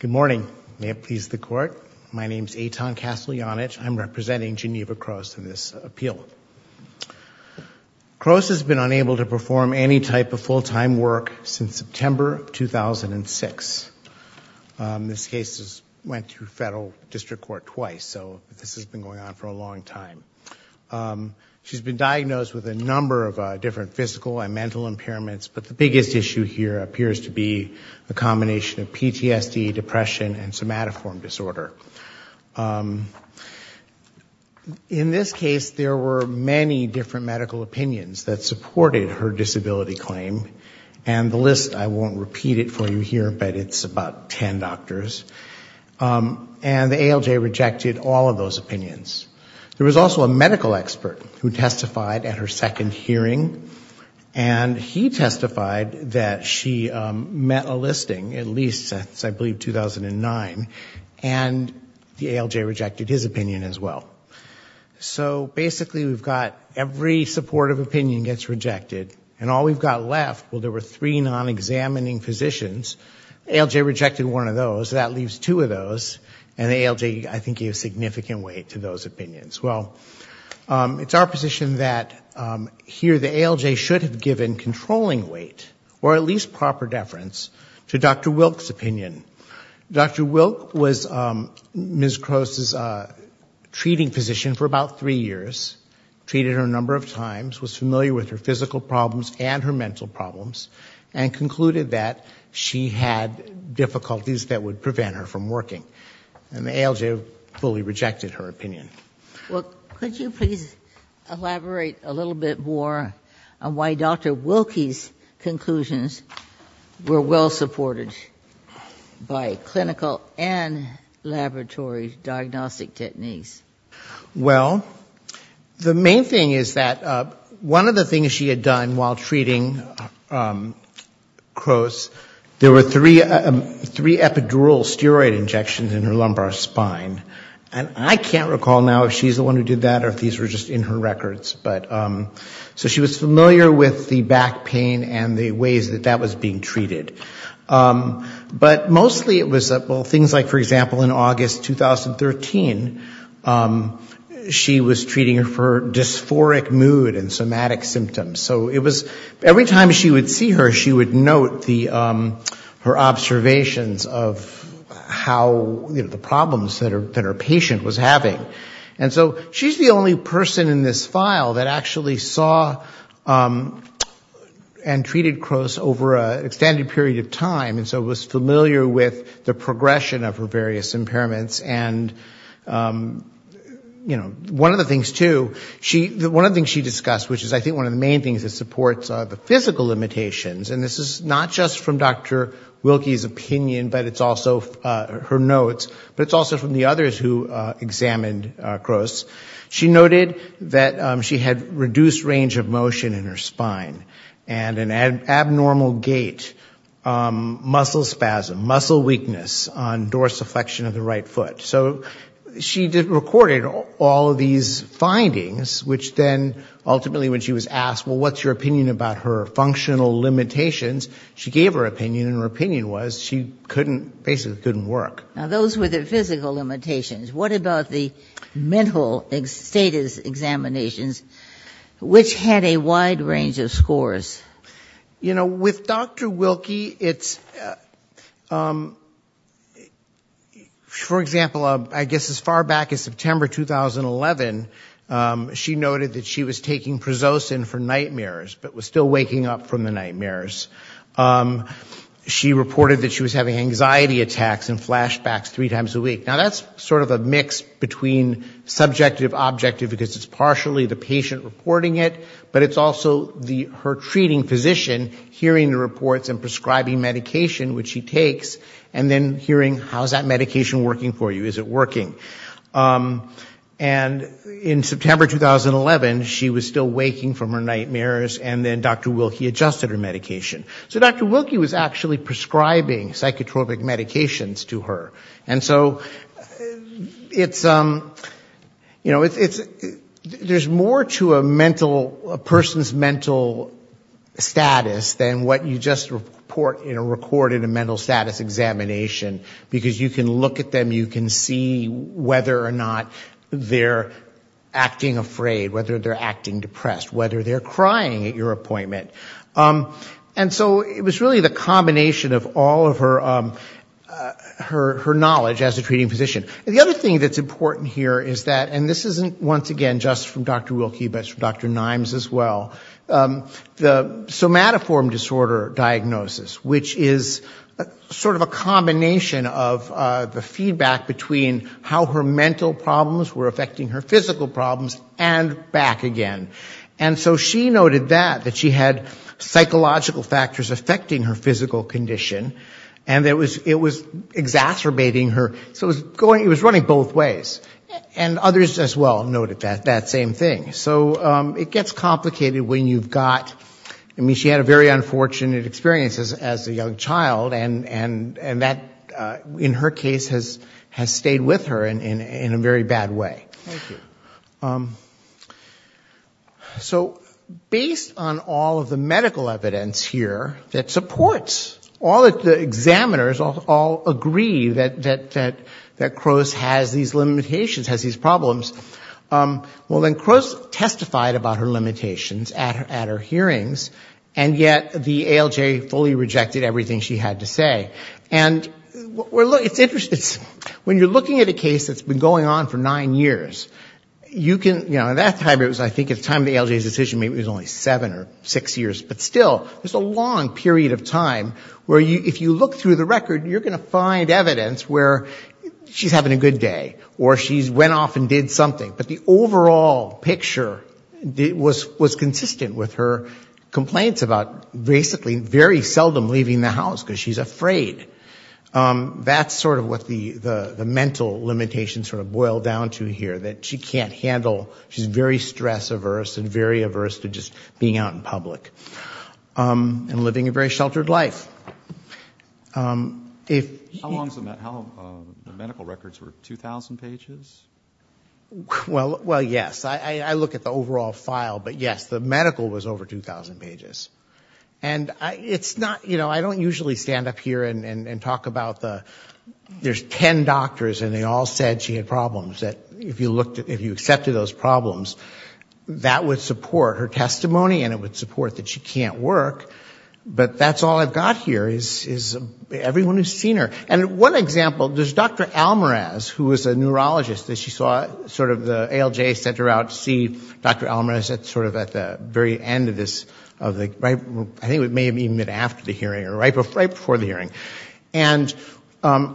Good morning. May it please the Court. My name is Eitan Kasteljanich. I'm representing Geneva Crose in this appeal. Crose has been unable to perform any type of full-time work since September 2006. This case went through federal district court twice, so this has been going on for a long time. She's been diagnosed with a number of different physical and mental impairments, but the biggest issue here appears to be a combination of PTSD, depression, and somatoform disorder. In this case, there were many different medical opinions that supported her disability claim, and the list I won't repeat it for you here, but it's about ten doctors, and the ALJ rejected all of those opinions. There was also a medical expert who testified at her second hearing, and he testified that she met a listing, at least since I believe 2009, and the ALJ rejected his opinion as well. So basically, we've got every supportive opinion gets rejected, and all we've got left, well, there were three non-examining physicians. ALJ rejected one of those. That leaves two of those, and the ALJ, I think, gave significant weight to those ALJ should have given controlling weight, or at least proper deference, to Dr. Wilk's opinion. Dr. Wilk was Ms. Croce's treating physician for about three years, treated her a number of times, was familiar with her physical problems and her mental problems, and concluded that she had difficulties that would prevent her from working. And the ALJ fully rejected her opinion. Well, could you please elaborate a little bit more on why Dr. Wilk's conclusions were well supported by clinical and laboratory diagnostic techniques? Well, the main thing is that one of the things she had done while treating Croce, there were three epidural steroid injections in her lumbar spine. And I can't recall now if she's the one who did that or if these were just in her records. So she was familiar with the back pain and the ways that that was being treated. But mostly it was, well, things like, for example, in August 2013, she was treating her for dysphoric mood and somatic symptoms. So it was, every time she would see her, she would note her observations of how, you know, the problems that her patient was having. And so she's the only person in this file that actually saw and treated Croce over an extended period of time. And so was familiar with the progression of her various impairments. And, you know, one of the things, too, one of the things she discussed, which is I think one of the main things that supports the physical limitations, and this is not just from Dr. Wilke's opinion, but it's also her notes, but it's also from the others who examined Croce, she noted that she had reduced range of motion in her spine and an abnormal gait, muscle spasm, muscle weakness on dorsiflexion of the right foot. So she recorded all of these findings, which then ultimately when she was asked, well, what's your opinion about her functional limitations, she gave her opinion, and her opinion was she couldn't, basically couldn't work. Now, those were the physical limitations. What about the mental status examinations, which had a wide range of scores? You know, with Dr. Wilke, it's, for example, I guess as far back as September 2011, she noted that she was taking prososin for nightmares, but was still waking up from the nightmares. She reported that she was having anxiety attacks and flashbacks three times a week. Now, that's sort of a mix between subjective, objective, because it's partially the patient reporting it, but it's also her treating physician hearing the reports and prescribing medication, which she takes, and then hearing how is that medication working for you, is it working. And in September 2011, she was still waking from her nightmares, and then Dr. Wilke adjusted her medication. So Dr. Wilke was actually prescribing psychotropic medications to her. And so it's, you know, it's, there's more to a mental, a person's mental status than what you just report, you know, record in a mental status examination, because you can look at them, you can see whether or not they're acting afraid, whether they're acting depressed, whether they're crying at your appointment. And so it was really the combination of all of her knowledge as a treating physician. And the other thing that's important here is that, and this isn't, once again, just from Dr. Wilke, but it's from Dr. Nimes as well, the somatoform disorder diagnosis, which is sort of a combination of the feedback between how her mental problems were affecting her and how she had psychological factors affecting her physical condition, and it was exacerbating her, so it was going, it was running both ways. And others as well noted that same thing. So it gets complicated when you've got, I mean, she had a very unfortunate experience as a young child, and that, in her case, has stayed with her in a very bad way. Thank you. So based on all of the medical evidence here that supports, all of the examiners all agree that Crose has these limitations, has these problems, well, then Crose testified about her limitations at her hearings, and yet the ALJ fully rejected everything she had to say. And it's interesting, when you're looking at a case that's been going on for nine years, you can, you know, at that time it was, I think at the time of the ALJ's decision, maybe it was only seven or six years, but still, it's a long period of time where if you look through the record, you're going to find evidence where she's having a good day, or she's went off and did something, but the overall picture was consistent with her complaints about basically very seldom leaving the house, because she's afraid. That's sort of what the mental limitations sort of boil down to here, that she can't handle, she's very stress-averse, and very averse to just being out in public, and living a very sheltered life. How long, the medical records were 2,000 pages? Well, yes. I look at the overall file, but yes, the medical was over 2,000 pages. And it's not, you know, I don't usually stand up here and talk about the, there's ten doctors and they all said she had problems, that if you looked at, if you accepted those problems, that would support her testimony, and it would support that she can't work, but that's all I've got here, is everyone who's seen her. And one example, there's Dr. Almaraz, who was a neurologist, that she saw sort of the ALJ sent her out to see Dr. Almaraz at sort of, I think it may have even been after the hearing, or right before the hearing. And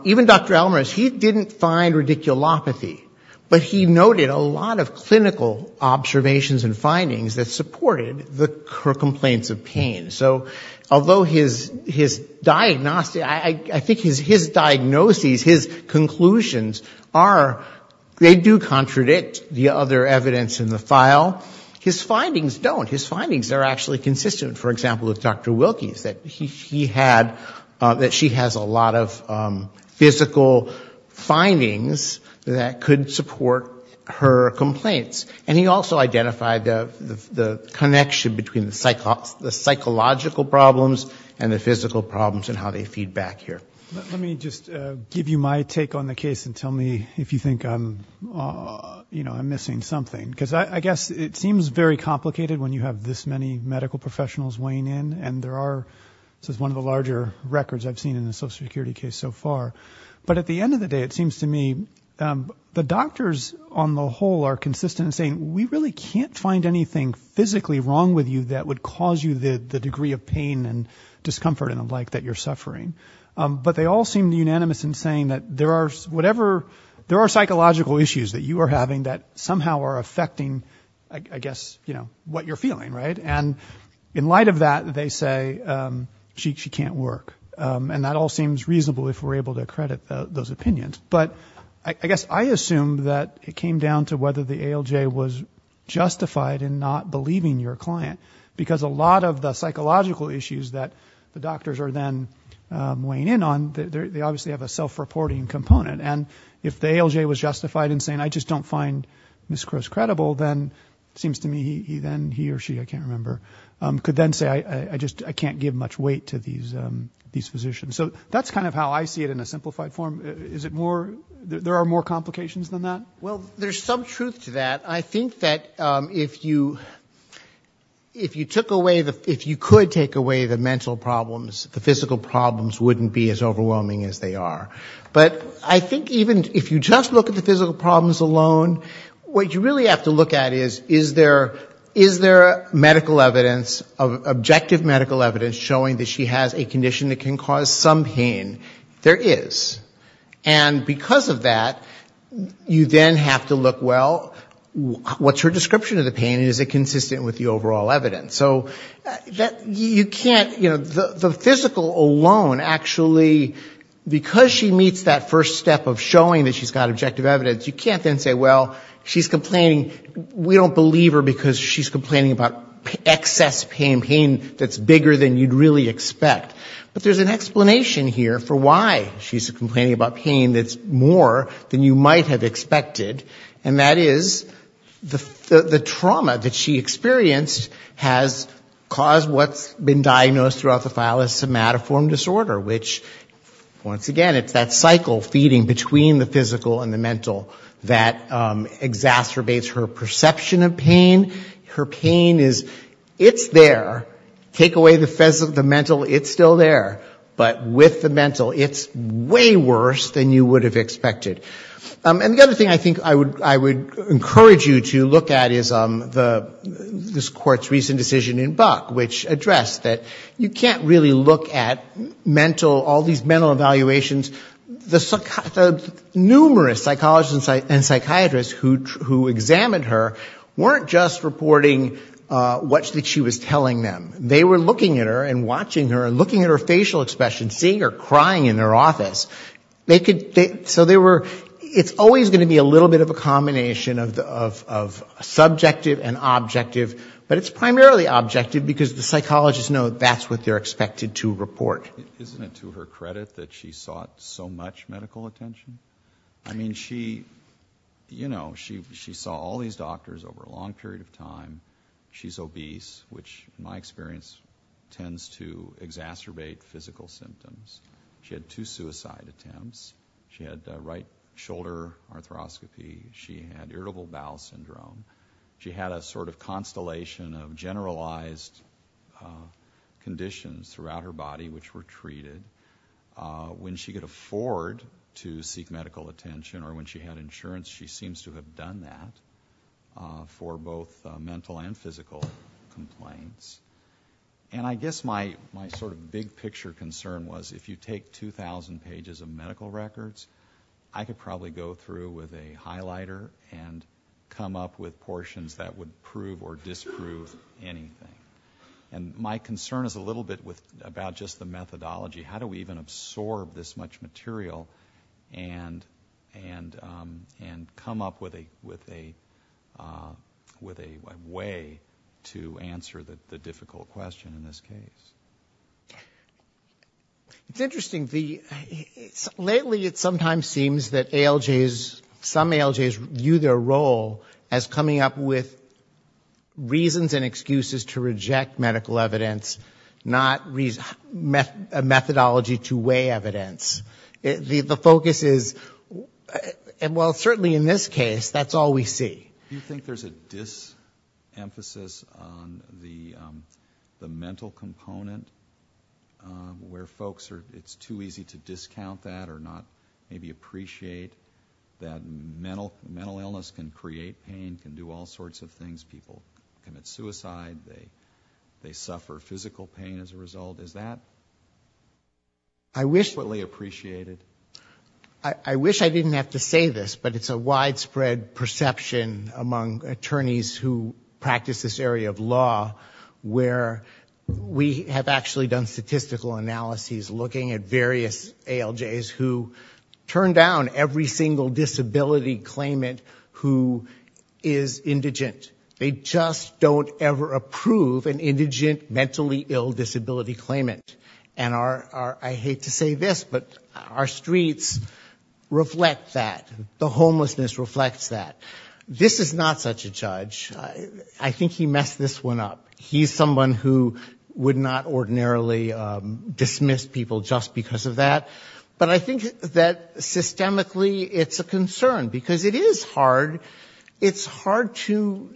even Dr. Almaraz, he didn't find radiculopathy, but he noted a lot of clinical observations and findings that supported the complaints of pain. So although his diagnosis, I think his diagnoses, his conclusions are, they do contradict the other evidence in the file, his findings don't. His findings are actually consistent, for example, with Dr. Wilkie's, that he had, that she has a lot of physical findings that could support her complaints. And he also identified the connection between the psychological problems and the physical problems and how they feed back here. Let me just give you my take on the case and tell me if you think I'm, you know, I'm missing something. Because I guess it seems very complicated when you have this many medical professionals weighing in, and there are, this is one of the larger records I've seen in the social security case so far. But at the end of the day, it seems to me, the doctors on the whole are consistent in saying, we really can't find anything physically wrong with you that would cause you the degree of pain and discomfort and the like that you're suffering. But they all seem unanimous in saying that there are whatever, there are psychological issues that you are having that somehow are affecting, I guess, you know, what you're feeling, right? And in light of that, they say she can't work. And that all seems reasonable if we're able to accredit those opinions. But I guess I assume that it came down to whether the ALJ was justified in not believing your client. Because a lot of the psychological issues that the doctors are then weighing in on, they obviously have a self-reporting component. And if the ALJ was justified in saying, I just don't find Ms. Crowe's credible, then it seems to me he or she, I can't remember, could then say, I just can't give much weight to these physicians. So that's kind of how I see it in a simplified form. Is it more, there are more complications than that? Well, there's some truth to that. I think that if you took away, if you could take away the mental problems, the physical problems wouldn't be as overwhelming as they are. But I think even if you just look at the physical problems alone, what you really have to look at is, is there medical evidence, objective medical evidence showing that she has a condition that can cause some pain? There is. And because of that, you then have to look, well, what's her description of the pain? Is it consistent with the overall evidence? So you can't, you alone, actually, because she meets that first step of showing that she's got objective evidence, you can't then say, well, she's complaining, we don't believe her because she's complaining about excess pain, pain that's bigger than you'd really expect. But there's an explanation here for why she's complaining about pain that's more than you might have expected. And that is the trauma that she experienced has caused what's been called mental disorder, which, once again, it's that cycle feeding between the physical and the mental that exacerbates her perception of pain. Her pain is, it's there. Take away the mental, it's still there. But with the mental, it's way worse than you would have expected. And the other thing I think I would encourage you to look at is the, this Court's recent decision in Buck, which addressed that you can't really look at mental, all these mental evaluations. The numerous psychologists and psychiatrists who examined her weren't just reporting what she was telling them. They were looking at her and watching her and looking at her facial expressions, seeing her crying in her office. They could, so they were, it's always going to be a little bit of a combination of subjective and objective, but it's primarily objective, because the psychologists know that's what they're expected to report. Isn't it to her credit that she sought so much medical attention? I mean, she, you know, she saw all these doctors over a long period of time. She's obese, which in my experience tends to exacerbate physical symptoms. She had two suicide attempts. She had right shoulder arthroscopy. She had irritable bowel syndrome. She had a sort of constellation of general generalized conditions throughout her body which were treated. When she could afford to seek medical attention or when she had insurance, she seems to have done that for both mental and physical complaints. And I guess my sort of big picture concern was if you take 2,000 pages of medical records, I could probably go through with a highlighter and come up with portions that would prove or disprove anything. And my concern is a little bit about just the methodology. How do we even absorb this much material and come up with a way to answer the difficult question in this case? It's interesting. Lately it sometimes seems that ALJs, some ALJs view their role as coming up with reasons and excuses to reject medical evidence, not methodology to weigh evidence. The focus is, well, certainly in this case, that's all we see. Do you think there's a disemphasis on the mental component where folks are, it's too easy to discount that or not maybe appreciate that mental illness can create pain, can do all sorts of things. People commit suicide. They suffer physical pain as a result. Is that... I wish... ...appreciated? I wish I didn't have to say this, but it's a widespread perception among attorneys who practice this area of law where we have actually done statistical analyses looking at various ALJs who turn down every single disability claimant who is indigent. They just don't ever approve an indigent, mentally ill disability claimant. And I hate to say this, but our streets reflect that. The homelessness reflects that. This is not such a judge. I think he messed this one up. He's someone who would not ordinarily dismiss people just because of that. But I think that systemically it's a concern because it is hard. It's hard to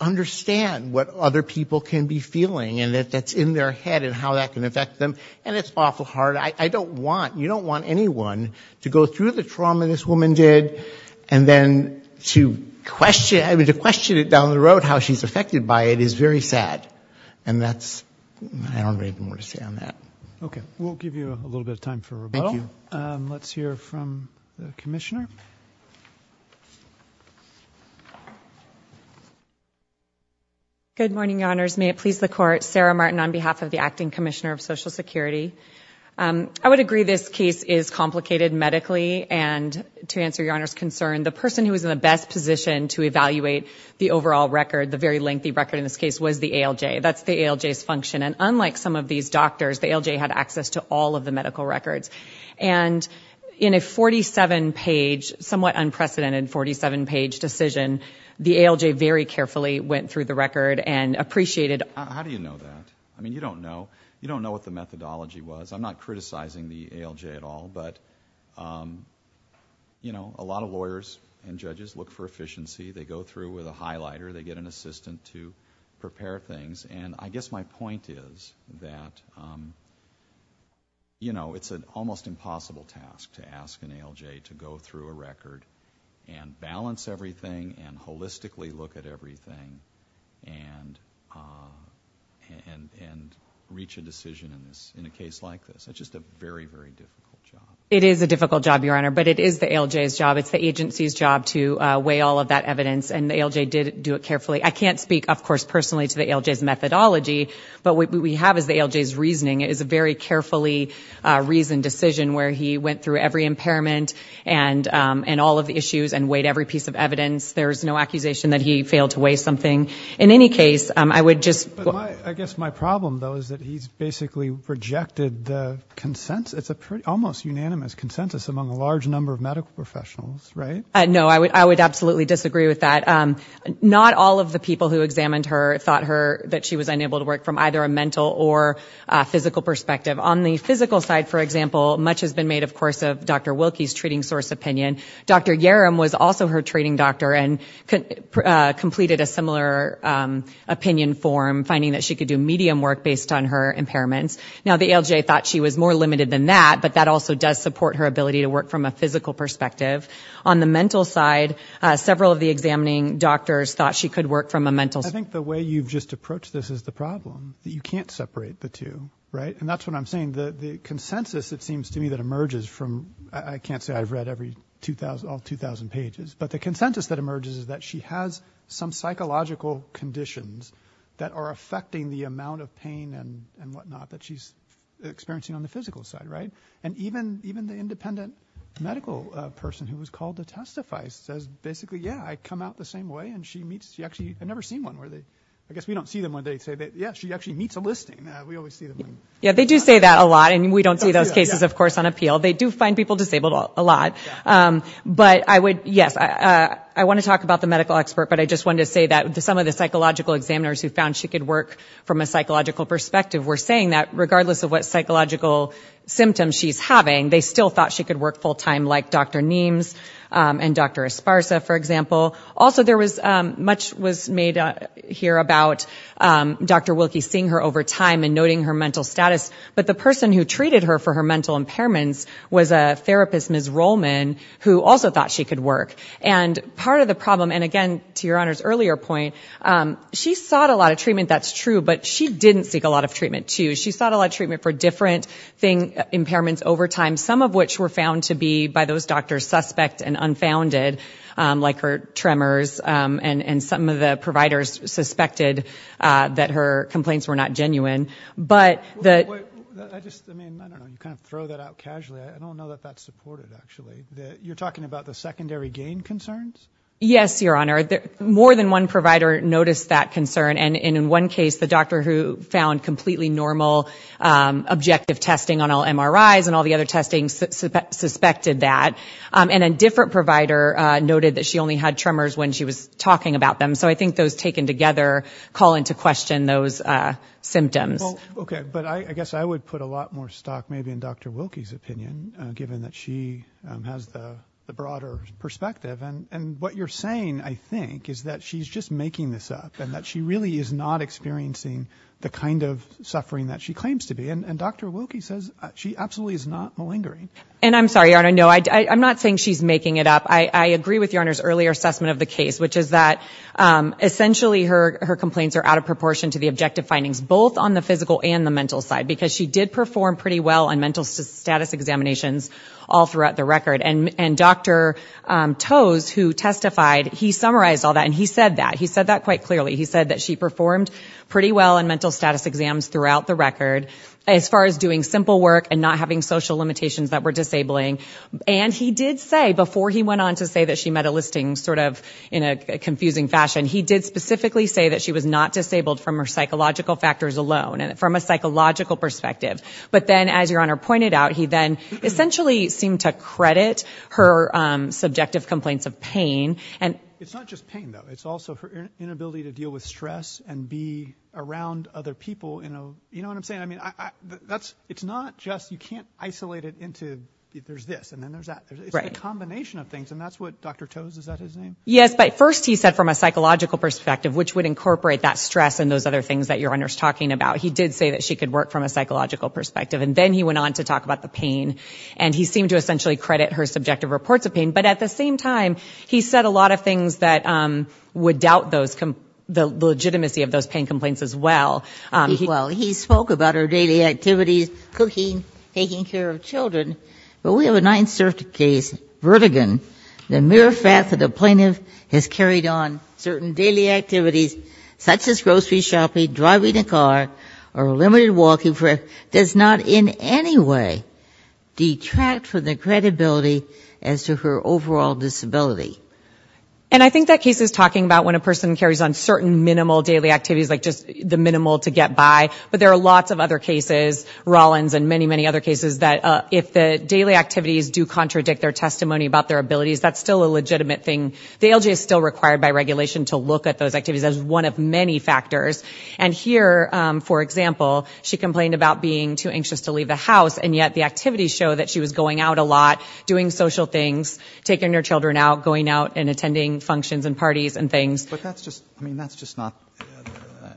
understand what other people can be feeling and that's in their head and how that can affect someone. To go through the trauma this woman did and then to question it down the road, how she's affected by it, is very sad. And that's... I don't really have more to say on that. Okay. We'll give you a little bit of time for rebuttal. Let's hear from the Commissioner. Good morning, Your Honors. May it please the Court. Sarah Martin on behalf of the Acting Commissioner of Social Security. I would agree this case is complicated medically and to answer Your Honor's concern, the person who was in the best position to evaluate the overall record, the very lengthy record in this case, was the ALJ. That's the ALJ's function. And unlike some of these doctors, the ALJ had access to all of the medical records. And in a 47-page, somewhat unprecedented 47-page decision, the ALJ very carefully went through the record and appreciated... How do you know that? I mean, you don't know. You don't know what the methodology was. I'm not criticizing the ALJ at all, but a lot of lawyers and judges look for efficiency. They go through with a highlighter. They get an assistant to prepare things. And I guess my point is that it's an almost impossible task to ask an ALJ to go through a record and balance everything and holistically look at everything and reach a decision in a case like this. It's just a very, very difficult job. It is a difficult job, Your Honor, but it is the ALJ's job. It's the agency's job to weigh all of that evidence, and the ALJ did do it carefully. I can't speak, of course, personally to the ALJ's methodology, but what we have is the ALJ's reasoning. It is a very difficult job to weigh all of the issues and weight every piece of evidence. There's no accusation that he failed to weigh something. In any case, I would just... I guess my problem, though, is that he's basically rejected the consensus. It's an almost unanimous consensus among a large number of medical professionals, right? No, I would absolutely disagree with that. Not all of the people who examined her thought that she was unable to work from either a mental or physical perspective. On the physical side, for example, much has been made, of course, of Dr. Wilkie's treating source opinion. Dr. Yerim was also her treating doctor and completed a similar opinion form, finding that she could do medium work based on her impairments. Now, the ALJ thought she was more limited than that, but that also does support her ability to work from a physical perspective. On the mental side, several of the examining doctors thought she could work from a mental... I think the way you've just approached this is the problem, that you can't separate the two, right? And that's what I'm saying. The consensus, it seems to me, that emerges from... All 2,000 pages. But the consensus that emerges is that she has some psychological conditions that are affecting the amount of pain and whatnot that she's experiencing on the physical side, right? And even the independent medical person who was called to testify says, basically, yeah, I come out the same way and she meets... I've never seen one where they... I guess we don't see them when they say that, yeah, she actually meets a listing. We always see them when... Yeah, they do say that a lot and we don't see those cases, of course, on appeal. They do find people disabled a lot. But I would... Yes, I want to talk about the medical expert, but I just wanted to say that some of the psychological examiners who found she could work from a psychological perspective were saying that regardless of what psychological symptoms she's having, they still thought she could work full-time like Dr. Niemes and Dr. Esparza, for example. Also, there was... Much was made here about Dr. Wilkie seeing her over time and noting her mental status, but the person who treated her for her mental impairments was a therapist, Ms. Rollman, who also thought she could work. And part of the problem, and again, to Your Honor's earlier point, she sought a lot of treatment, that's true, but she didn't seek a lot of treatment, too. She sought a lot of treatment for different impairments over time, some of which were found to be by those doctors suspect and unfounded, like her tremors and some of the providers suspected that her complaints were not genuine. But the... I just, I mean, I don't know, you kind of throw that out casually. I don't know that that's supported, actually. You're talking about the secondary gain concerns? Yes, Your Honor. More than one provider noticed that concern, and in one case, the doctor who found completely normal objective testing on all MRIs and all the other testing suspected that. And a different provider noted that she only had tremors when she was talking about them. So I think those taken together call into question those symptoms. Well, okay. But I guess I would put a lot more stock maybe in Dr. Wilke's opinion, given that she has the broader perspective. And what you're saying, I think, is that she's just making this up, and that she really is not experiencing the kind of suffering that she claims to be. And Dr. Wilke says she absolutely is not malingering. And I'm sorry, Your Honor, no, I'm not saying she's making it up. I agree with Your Honor's earlier assessment of the case, which is that essentially her complaints are out of proportion to the objective findings, both on the physical and the mental side, because she did perform pretty well on mental status examinations all throughout the record. And Dr. Toews, who testified, he summarized all that, and he said that. He said that quite clearly. He said that she performed pretty well on mental status exams throughout the record, as far as doing simple work and not having social limitations that were disabling. And he did say, before he went on to say that she met a listing sort of in a confusing fashion, he did specifically say that she was not disabled from her psychological factors alone, from a psychological perspective. But then, as Your Honor pointed out, he then essentially seemed to credit her subjective complaints of pain. And it's not just pain, though. It's also her inability to deal with stress and be around other people in a, you know what I'm saying? I mean, that's, it's not just, you can't isolate it into, there's this, and then there's that. It's a combination of things, and that's what Dr. Toews, is that his name? Yes, but first he said from a psychological perspective, which would incorporate that stress and those other things that Your Honor's talking about. He did say that she could work from a psychological perspective. And then he went on to talk about the pain, and he seemed to essentially credit her subjective reports of pain. But at the same time, he said a lot of things that would doubt those, the legitimacy of those pain complaints as well. Well, he spoke about her daily activities, cooking, taking care of children. But we have not inserted a case, verdicant, the mere fact that a plaintiff has carried on certain daily activities, such as grocery shopping, driving a car, or limited walking, does not in any way detract from the credibility as to her overall disability. And I think that case is talking about when a person carries on certain minimal daily activities, like just the minimal to get by. But there are lots of other cases, Rollins and many, many other cases, that if the daily activities do contradict their testimony about their abilities, that's still a legitimate thing. The ALJ is still required by regulation to look at those activities as one of many factors. And here, for example, she complained about being too anxious to leave the house, and yet the activities show that she was going out a lot, doing social things, taking her children out, going out and attending functions and parties and things. But that's just, I mean, that's just not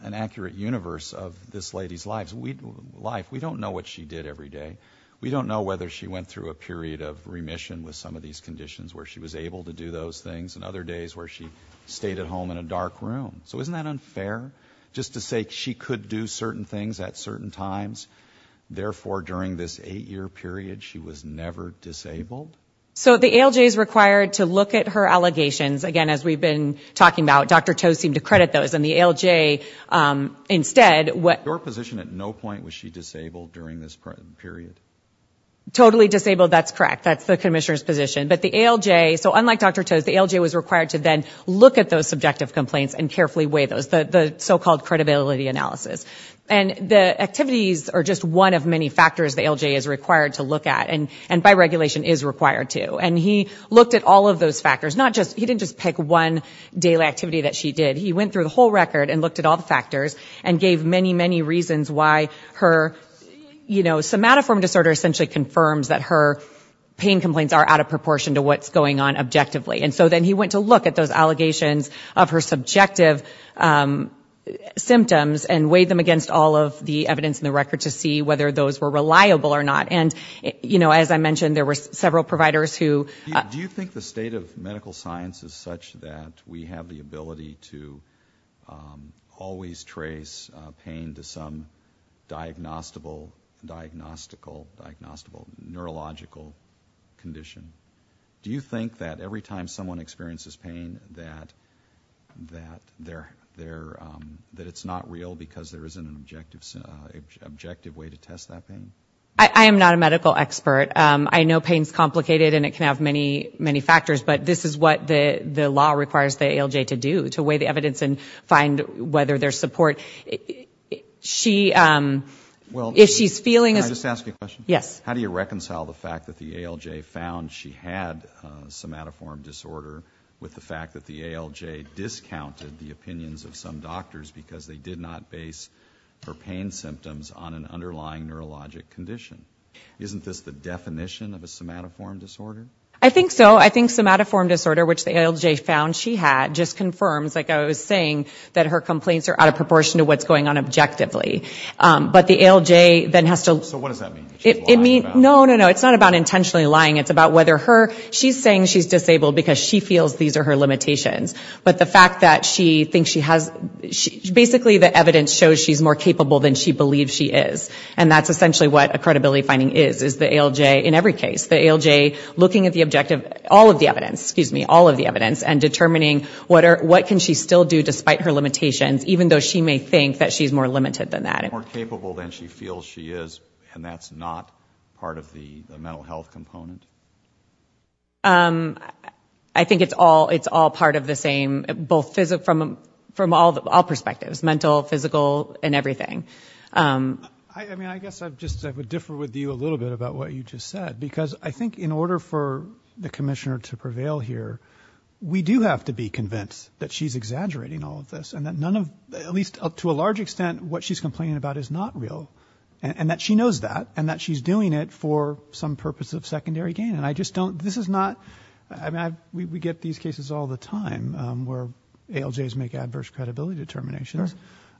an accurate universe of this lady's life. We don't know what she did every day. We don't know whether she went through a period of remission with some of these conditions where she was able to do those things, and other days where she stayed at home in a dark room. So isn't that unfair? Just to say she could do certain things at certain times, therefore, during this eight-year period, she was never disabled? So the ALJ is required to look at her allegations, again, as we've been talking about. Dr. Toh seemed to credit those. And the ALJ, instead, what Your position at no point was she disabled during this period? Totally disabled, that's correct. That's the Commissioner's position. But the ALJ, so unlike Dr. Toh's, the ALJ was required to then look at those subjective complaints and carefully weigh those, the so-called credibility analysis. And the activities are just one of many factors the ALJ is required to look at, and by regulation is required to. And he looked at all of those factors, not just, he didn't just pick one daily activity that she did. He went through the whole record and looked at all the factors, and gave many, many reasons why her, you know, somatoform disorder essentially confirms that her pain complaints are out of proportion to what's going on objectively. And so then he went to look at those allegations of her subjective symptoms and weighed them against all of the evidence in the record to see whether those were reliable or not. And, you know, as I mentioned, there were several providers who So, do you think the state of medical science is such that we have the ability to always trace pain to some diagnostable, diagnostical, diagnostable neurological condition? Do you think that every time someone experiences pain that, that they're, that it's not real because there isn't an objective way to test that pain? I am not a medical expert. I know pain is complicated and it can have many, many factors, but this is what the law requires the ALJ to do, to weigh the evidence and find whether there's support. She, if she's feeling Can I just ask a question? Yes. How do you reconcile the fact that the ALJ found she had somatoform disorder with the fact that the ALJ discounted the opinions of some doctors because they did not base her pain symptoms on an underlying neurologic condition? Isn't this the definition of a somatoform disorder? I think so. I think somatoform disorder, which the ALJ found she had, just confirms, like I was saying, that her complaints are out of proportion to what's going on objectively. But the ALJ then has to So what does that mean? It means, no, no, no, it's not about intentionally lying. It's about whether her, she's saying she's disabled because she feels these are her limitations. But the fact that she thinks she has, basically the evidence shows she's more capable than she believes she is. And that's essentially what a credibility finding is, is the ALJ, in every case, the ALJ looking at the objective, all of the evidence, excuse me, all of the evidence, and determining what can she still do despite her limitations, even though she may think that she's more limited than that. More capable than she feels she is, and that's not part of the mental health component? I think it's all, it's all part of the same, both physical, from all perspectives, mental, physical, and everything. I mean, I guess I've just, I would differ with you a little bit about what you just said, because I think in order for the Commissioner to prevail here, we do have to be convinced that she's exaggerating all of this, and that none of, at least up to a large extent, what she's complaining about is not real, and that she knows that, and that she's doing it for some purpose of secondary gain, and I just don't, this is not, I mean, we get these cases all the time, where ALJs make adverse credibility determinations,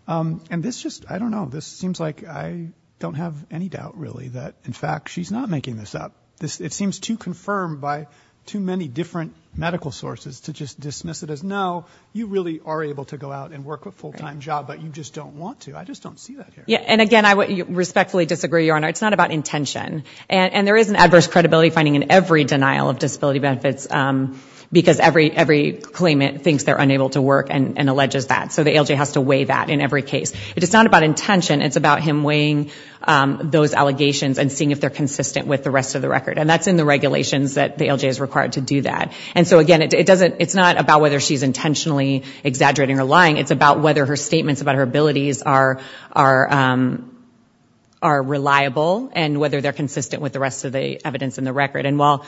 and this just, I don't know, this seems like I don't have any doubt, really, that, in fact, she's not making this up. It seems too confirmed by too many different medical sources to just dismiss it as, no, you really are able to go out and work a full-time job, but you just don't want to. I just don't see that here. Yeah, and again, I respectfully disagree, Your Honor. It's not about intention, and there is an adverse credibility finding in every denial of disability benefits, because every claimant thinks they're unable to work and alleges that, so the ALJ has to weigh that in every case. It's not about intention, it's about him weighing those allegations and seeing if they're consistent with the rest of the record, and that's in the regulations that the ALJ is required to do that, and so, again, it doesn't, it's not about whether she's intentionally exaggerating or lying. It's about whether her statements about her abilities are reliable and whether they're consistent with the rest of the evidence in the record, and while...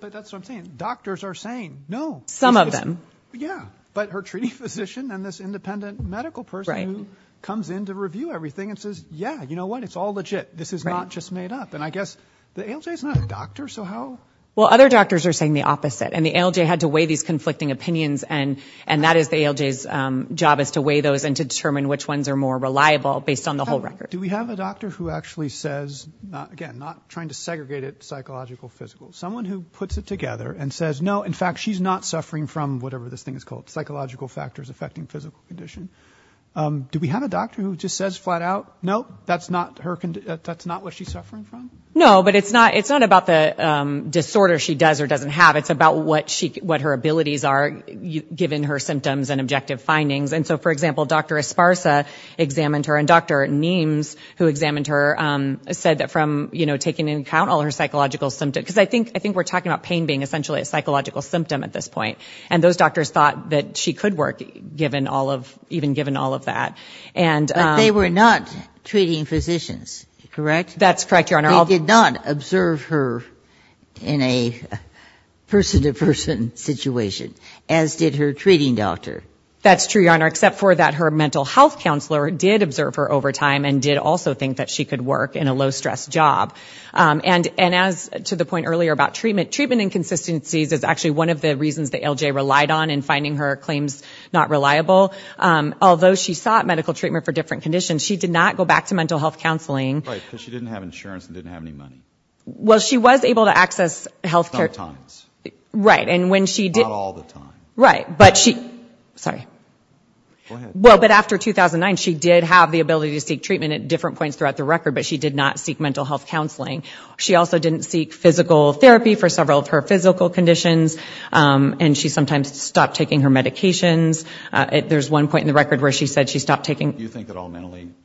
But that's what I'm saying. Doctors are saying, no. Some of them. Yeah, but her treating physician and this independent medical person who comes in to review everything and says, yeah, you know what? It's all legit. This is not just made up, and I guess the ALJ is not a doctor, so how... Well, other doctors are saying the opposite, and the ALJ had to weigh these conflicting opinions, and that is the ALJ's job, is to weigh those and to determine which ones are more reliable based on the whole record. Do we have a doctor who actually says... Again, not trying to segregate it psychological, physical. Someone who puts it together and says, no, in fact, she's not suffering from whatever this thing is called, psychological factors affecting physical condition. Do we have a doctor who just says flat out, no, that's not what she's suffering from? No, but it's not about the disorder she does or doesn't have. It's about what her abilities are, given her symptoms and objective findings. And so, for example, Dr. Esparza examined her, and Dr. Niemes, who examined her, said that from taking into account all her psychological symptoms, because I think we're talking about pain being essentially a psychological symptom at this point, and those doctors thought that she could work, even given all of that. But they were not treating physicians, correct? That's correct, Your Honor. They did not observe her in a person-to-person situation, as did her treating doctor. That's true, Your Honor, except for that her mental health counselor did observe her over time, and did also think that she could work in a low-stress job. And as to the point earlier about treatment, treatment inconsistencies is actually one of the reasons that LJ relied on in finding her claims not reliable. Although she sought medical treatment for different conditions, she did not go back to mental health counseling. Right, because she didn't have insurance and didn't have any money. Well, she was able to access health care. Sometimes. Right, and when she did... Not all the time. Right, but she... Sorry. Go ahead. Well, but after 2009, she did have the ability to seek treatment at different points throughout the record, but she did not seek mental health counseling. She also didn't seek physical therapy for several of her physical conditions, and she sometimes stopped taking her medications. There's one point in the record where she said she stopped taking...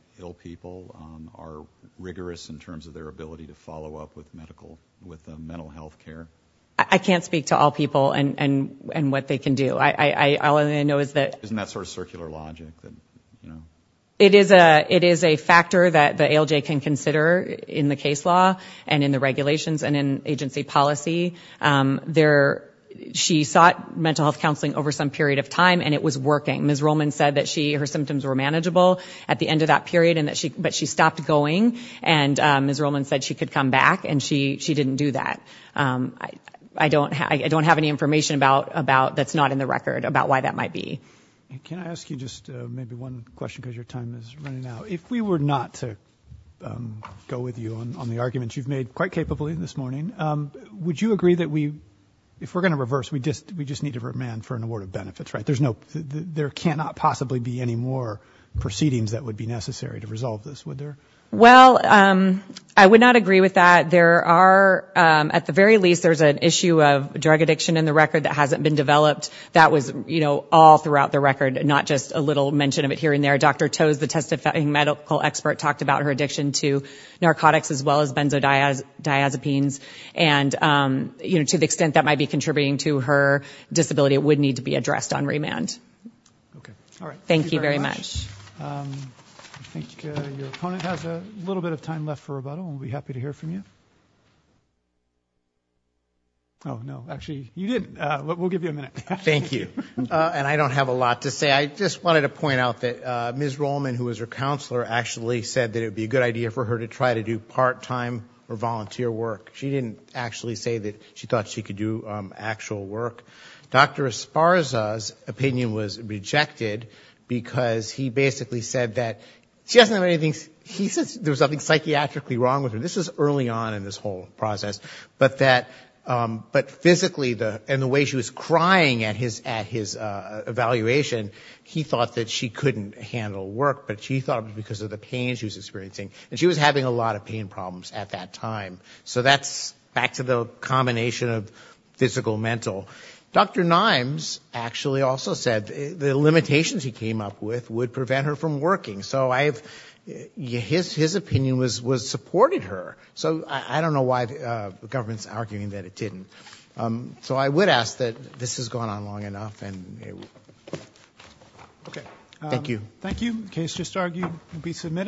are rigorous in terms of their ability to follow up with medical, with mental health care. I can't speak to all people and what they can do. All I know is that... Isn't that sort of circular logic? It is a factor that the ALJ can consider in the case law and in the regulations and in agency policy. She sought mental health counseling over some period of time, and it was working. Ms. Rollman said that her symptoms were manageable at the end of that period, but she stopped going, and Ms. Rollman said she could come back, and she didn't do that. I don't have any information that's not in the record about why that might be. Can I ask you just maybe one question, because your time is running out? If we were not to go with you on the arguments you've made quite capably this morning, would you agree that if we're going to reverse, we just need to remand for an award of benefits, right? Because there's no... There cannot possibly be any more proceedings that would be necessary to resolve this, would there? Well, I would not agree with that. There are... At the very least, there's an issue of drug addiction in the record that hasn't been developed. That was all throughout the record, not just a little mention of it here and there. Dr. Toews, the testifying medical expert, talked about her addiction to narcotics as well as benzodiazepines, and to the extent that might be contributing to her disability, that it would need to be addressed on remand. Okay. All right. Thank you very much. I think your opponent has a little bit of time left for rebuttal, and we'll be happy to hear from you. Oh, no. Actually, you didn't. We'll give you a minute. Thank you. And I don't have a lot to say. I just wanted to point out that Ms. Rollman, who was her counselor, actually said that it would be a good idea for her to try to do part-time or volunteer work. She didn't actually say that she thought she could do actual work. Dr. Esparza's opinion was rejected because he basically said that she doesn't have anything – he said there was something psychiatrically wrong with her. This was early on in this whole process. But physically, and the way she was crying at his evaluation, he thought that she couldn't handle work, but she thought it was because of the pain she was experiencing. And she was having a lot of pain problems at that time. So that's back to the combination of physical and mental. Dr. Nimes actually also said the limitations he came up with would prevent her from working. So his opinion supported her. So I don't know why the government's arguing that it didn't. So I would ask that this has gone on long enough. Thank you. Thank you. The case just argued will be submitted.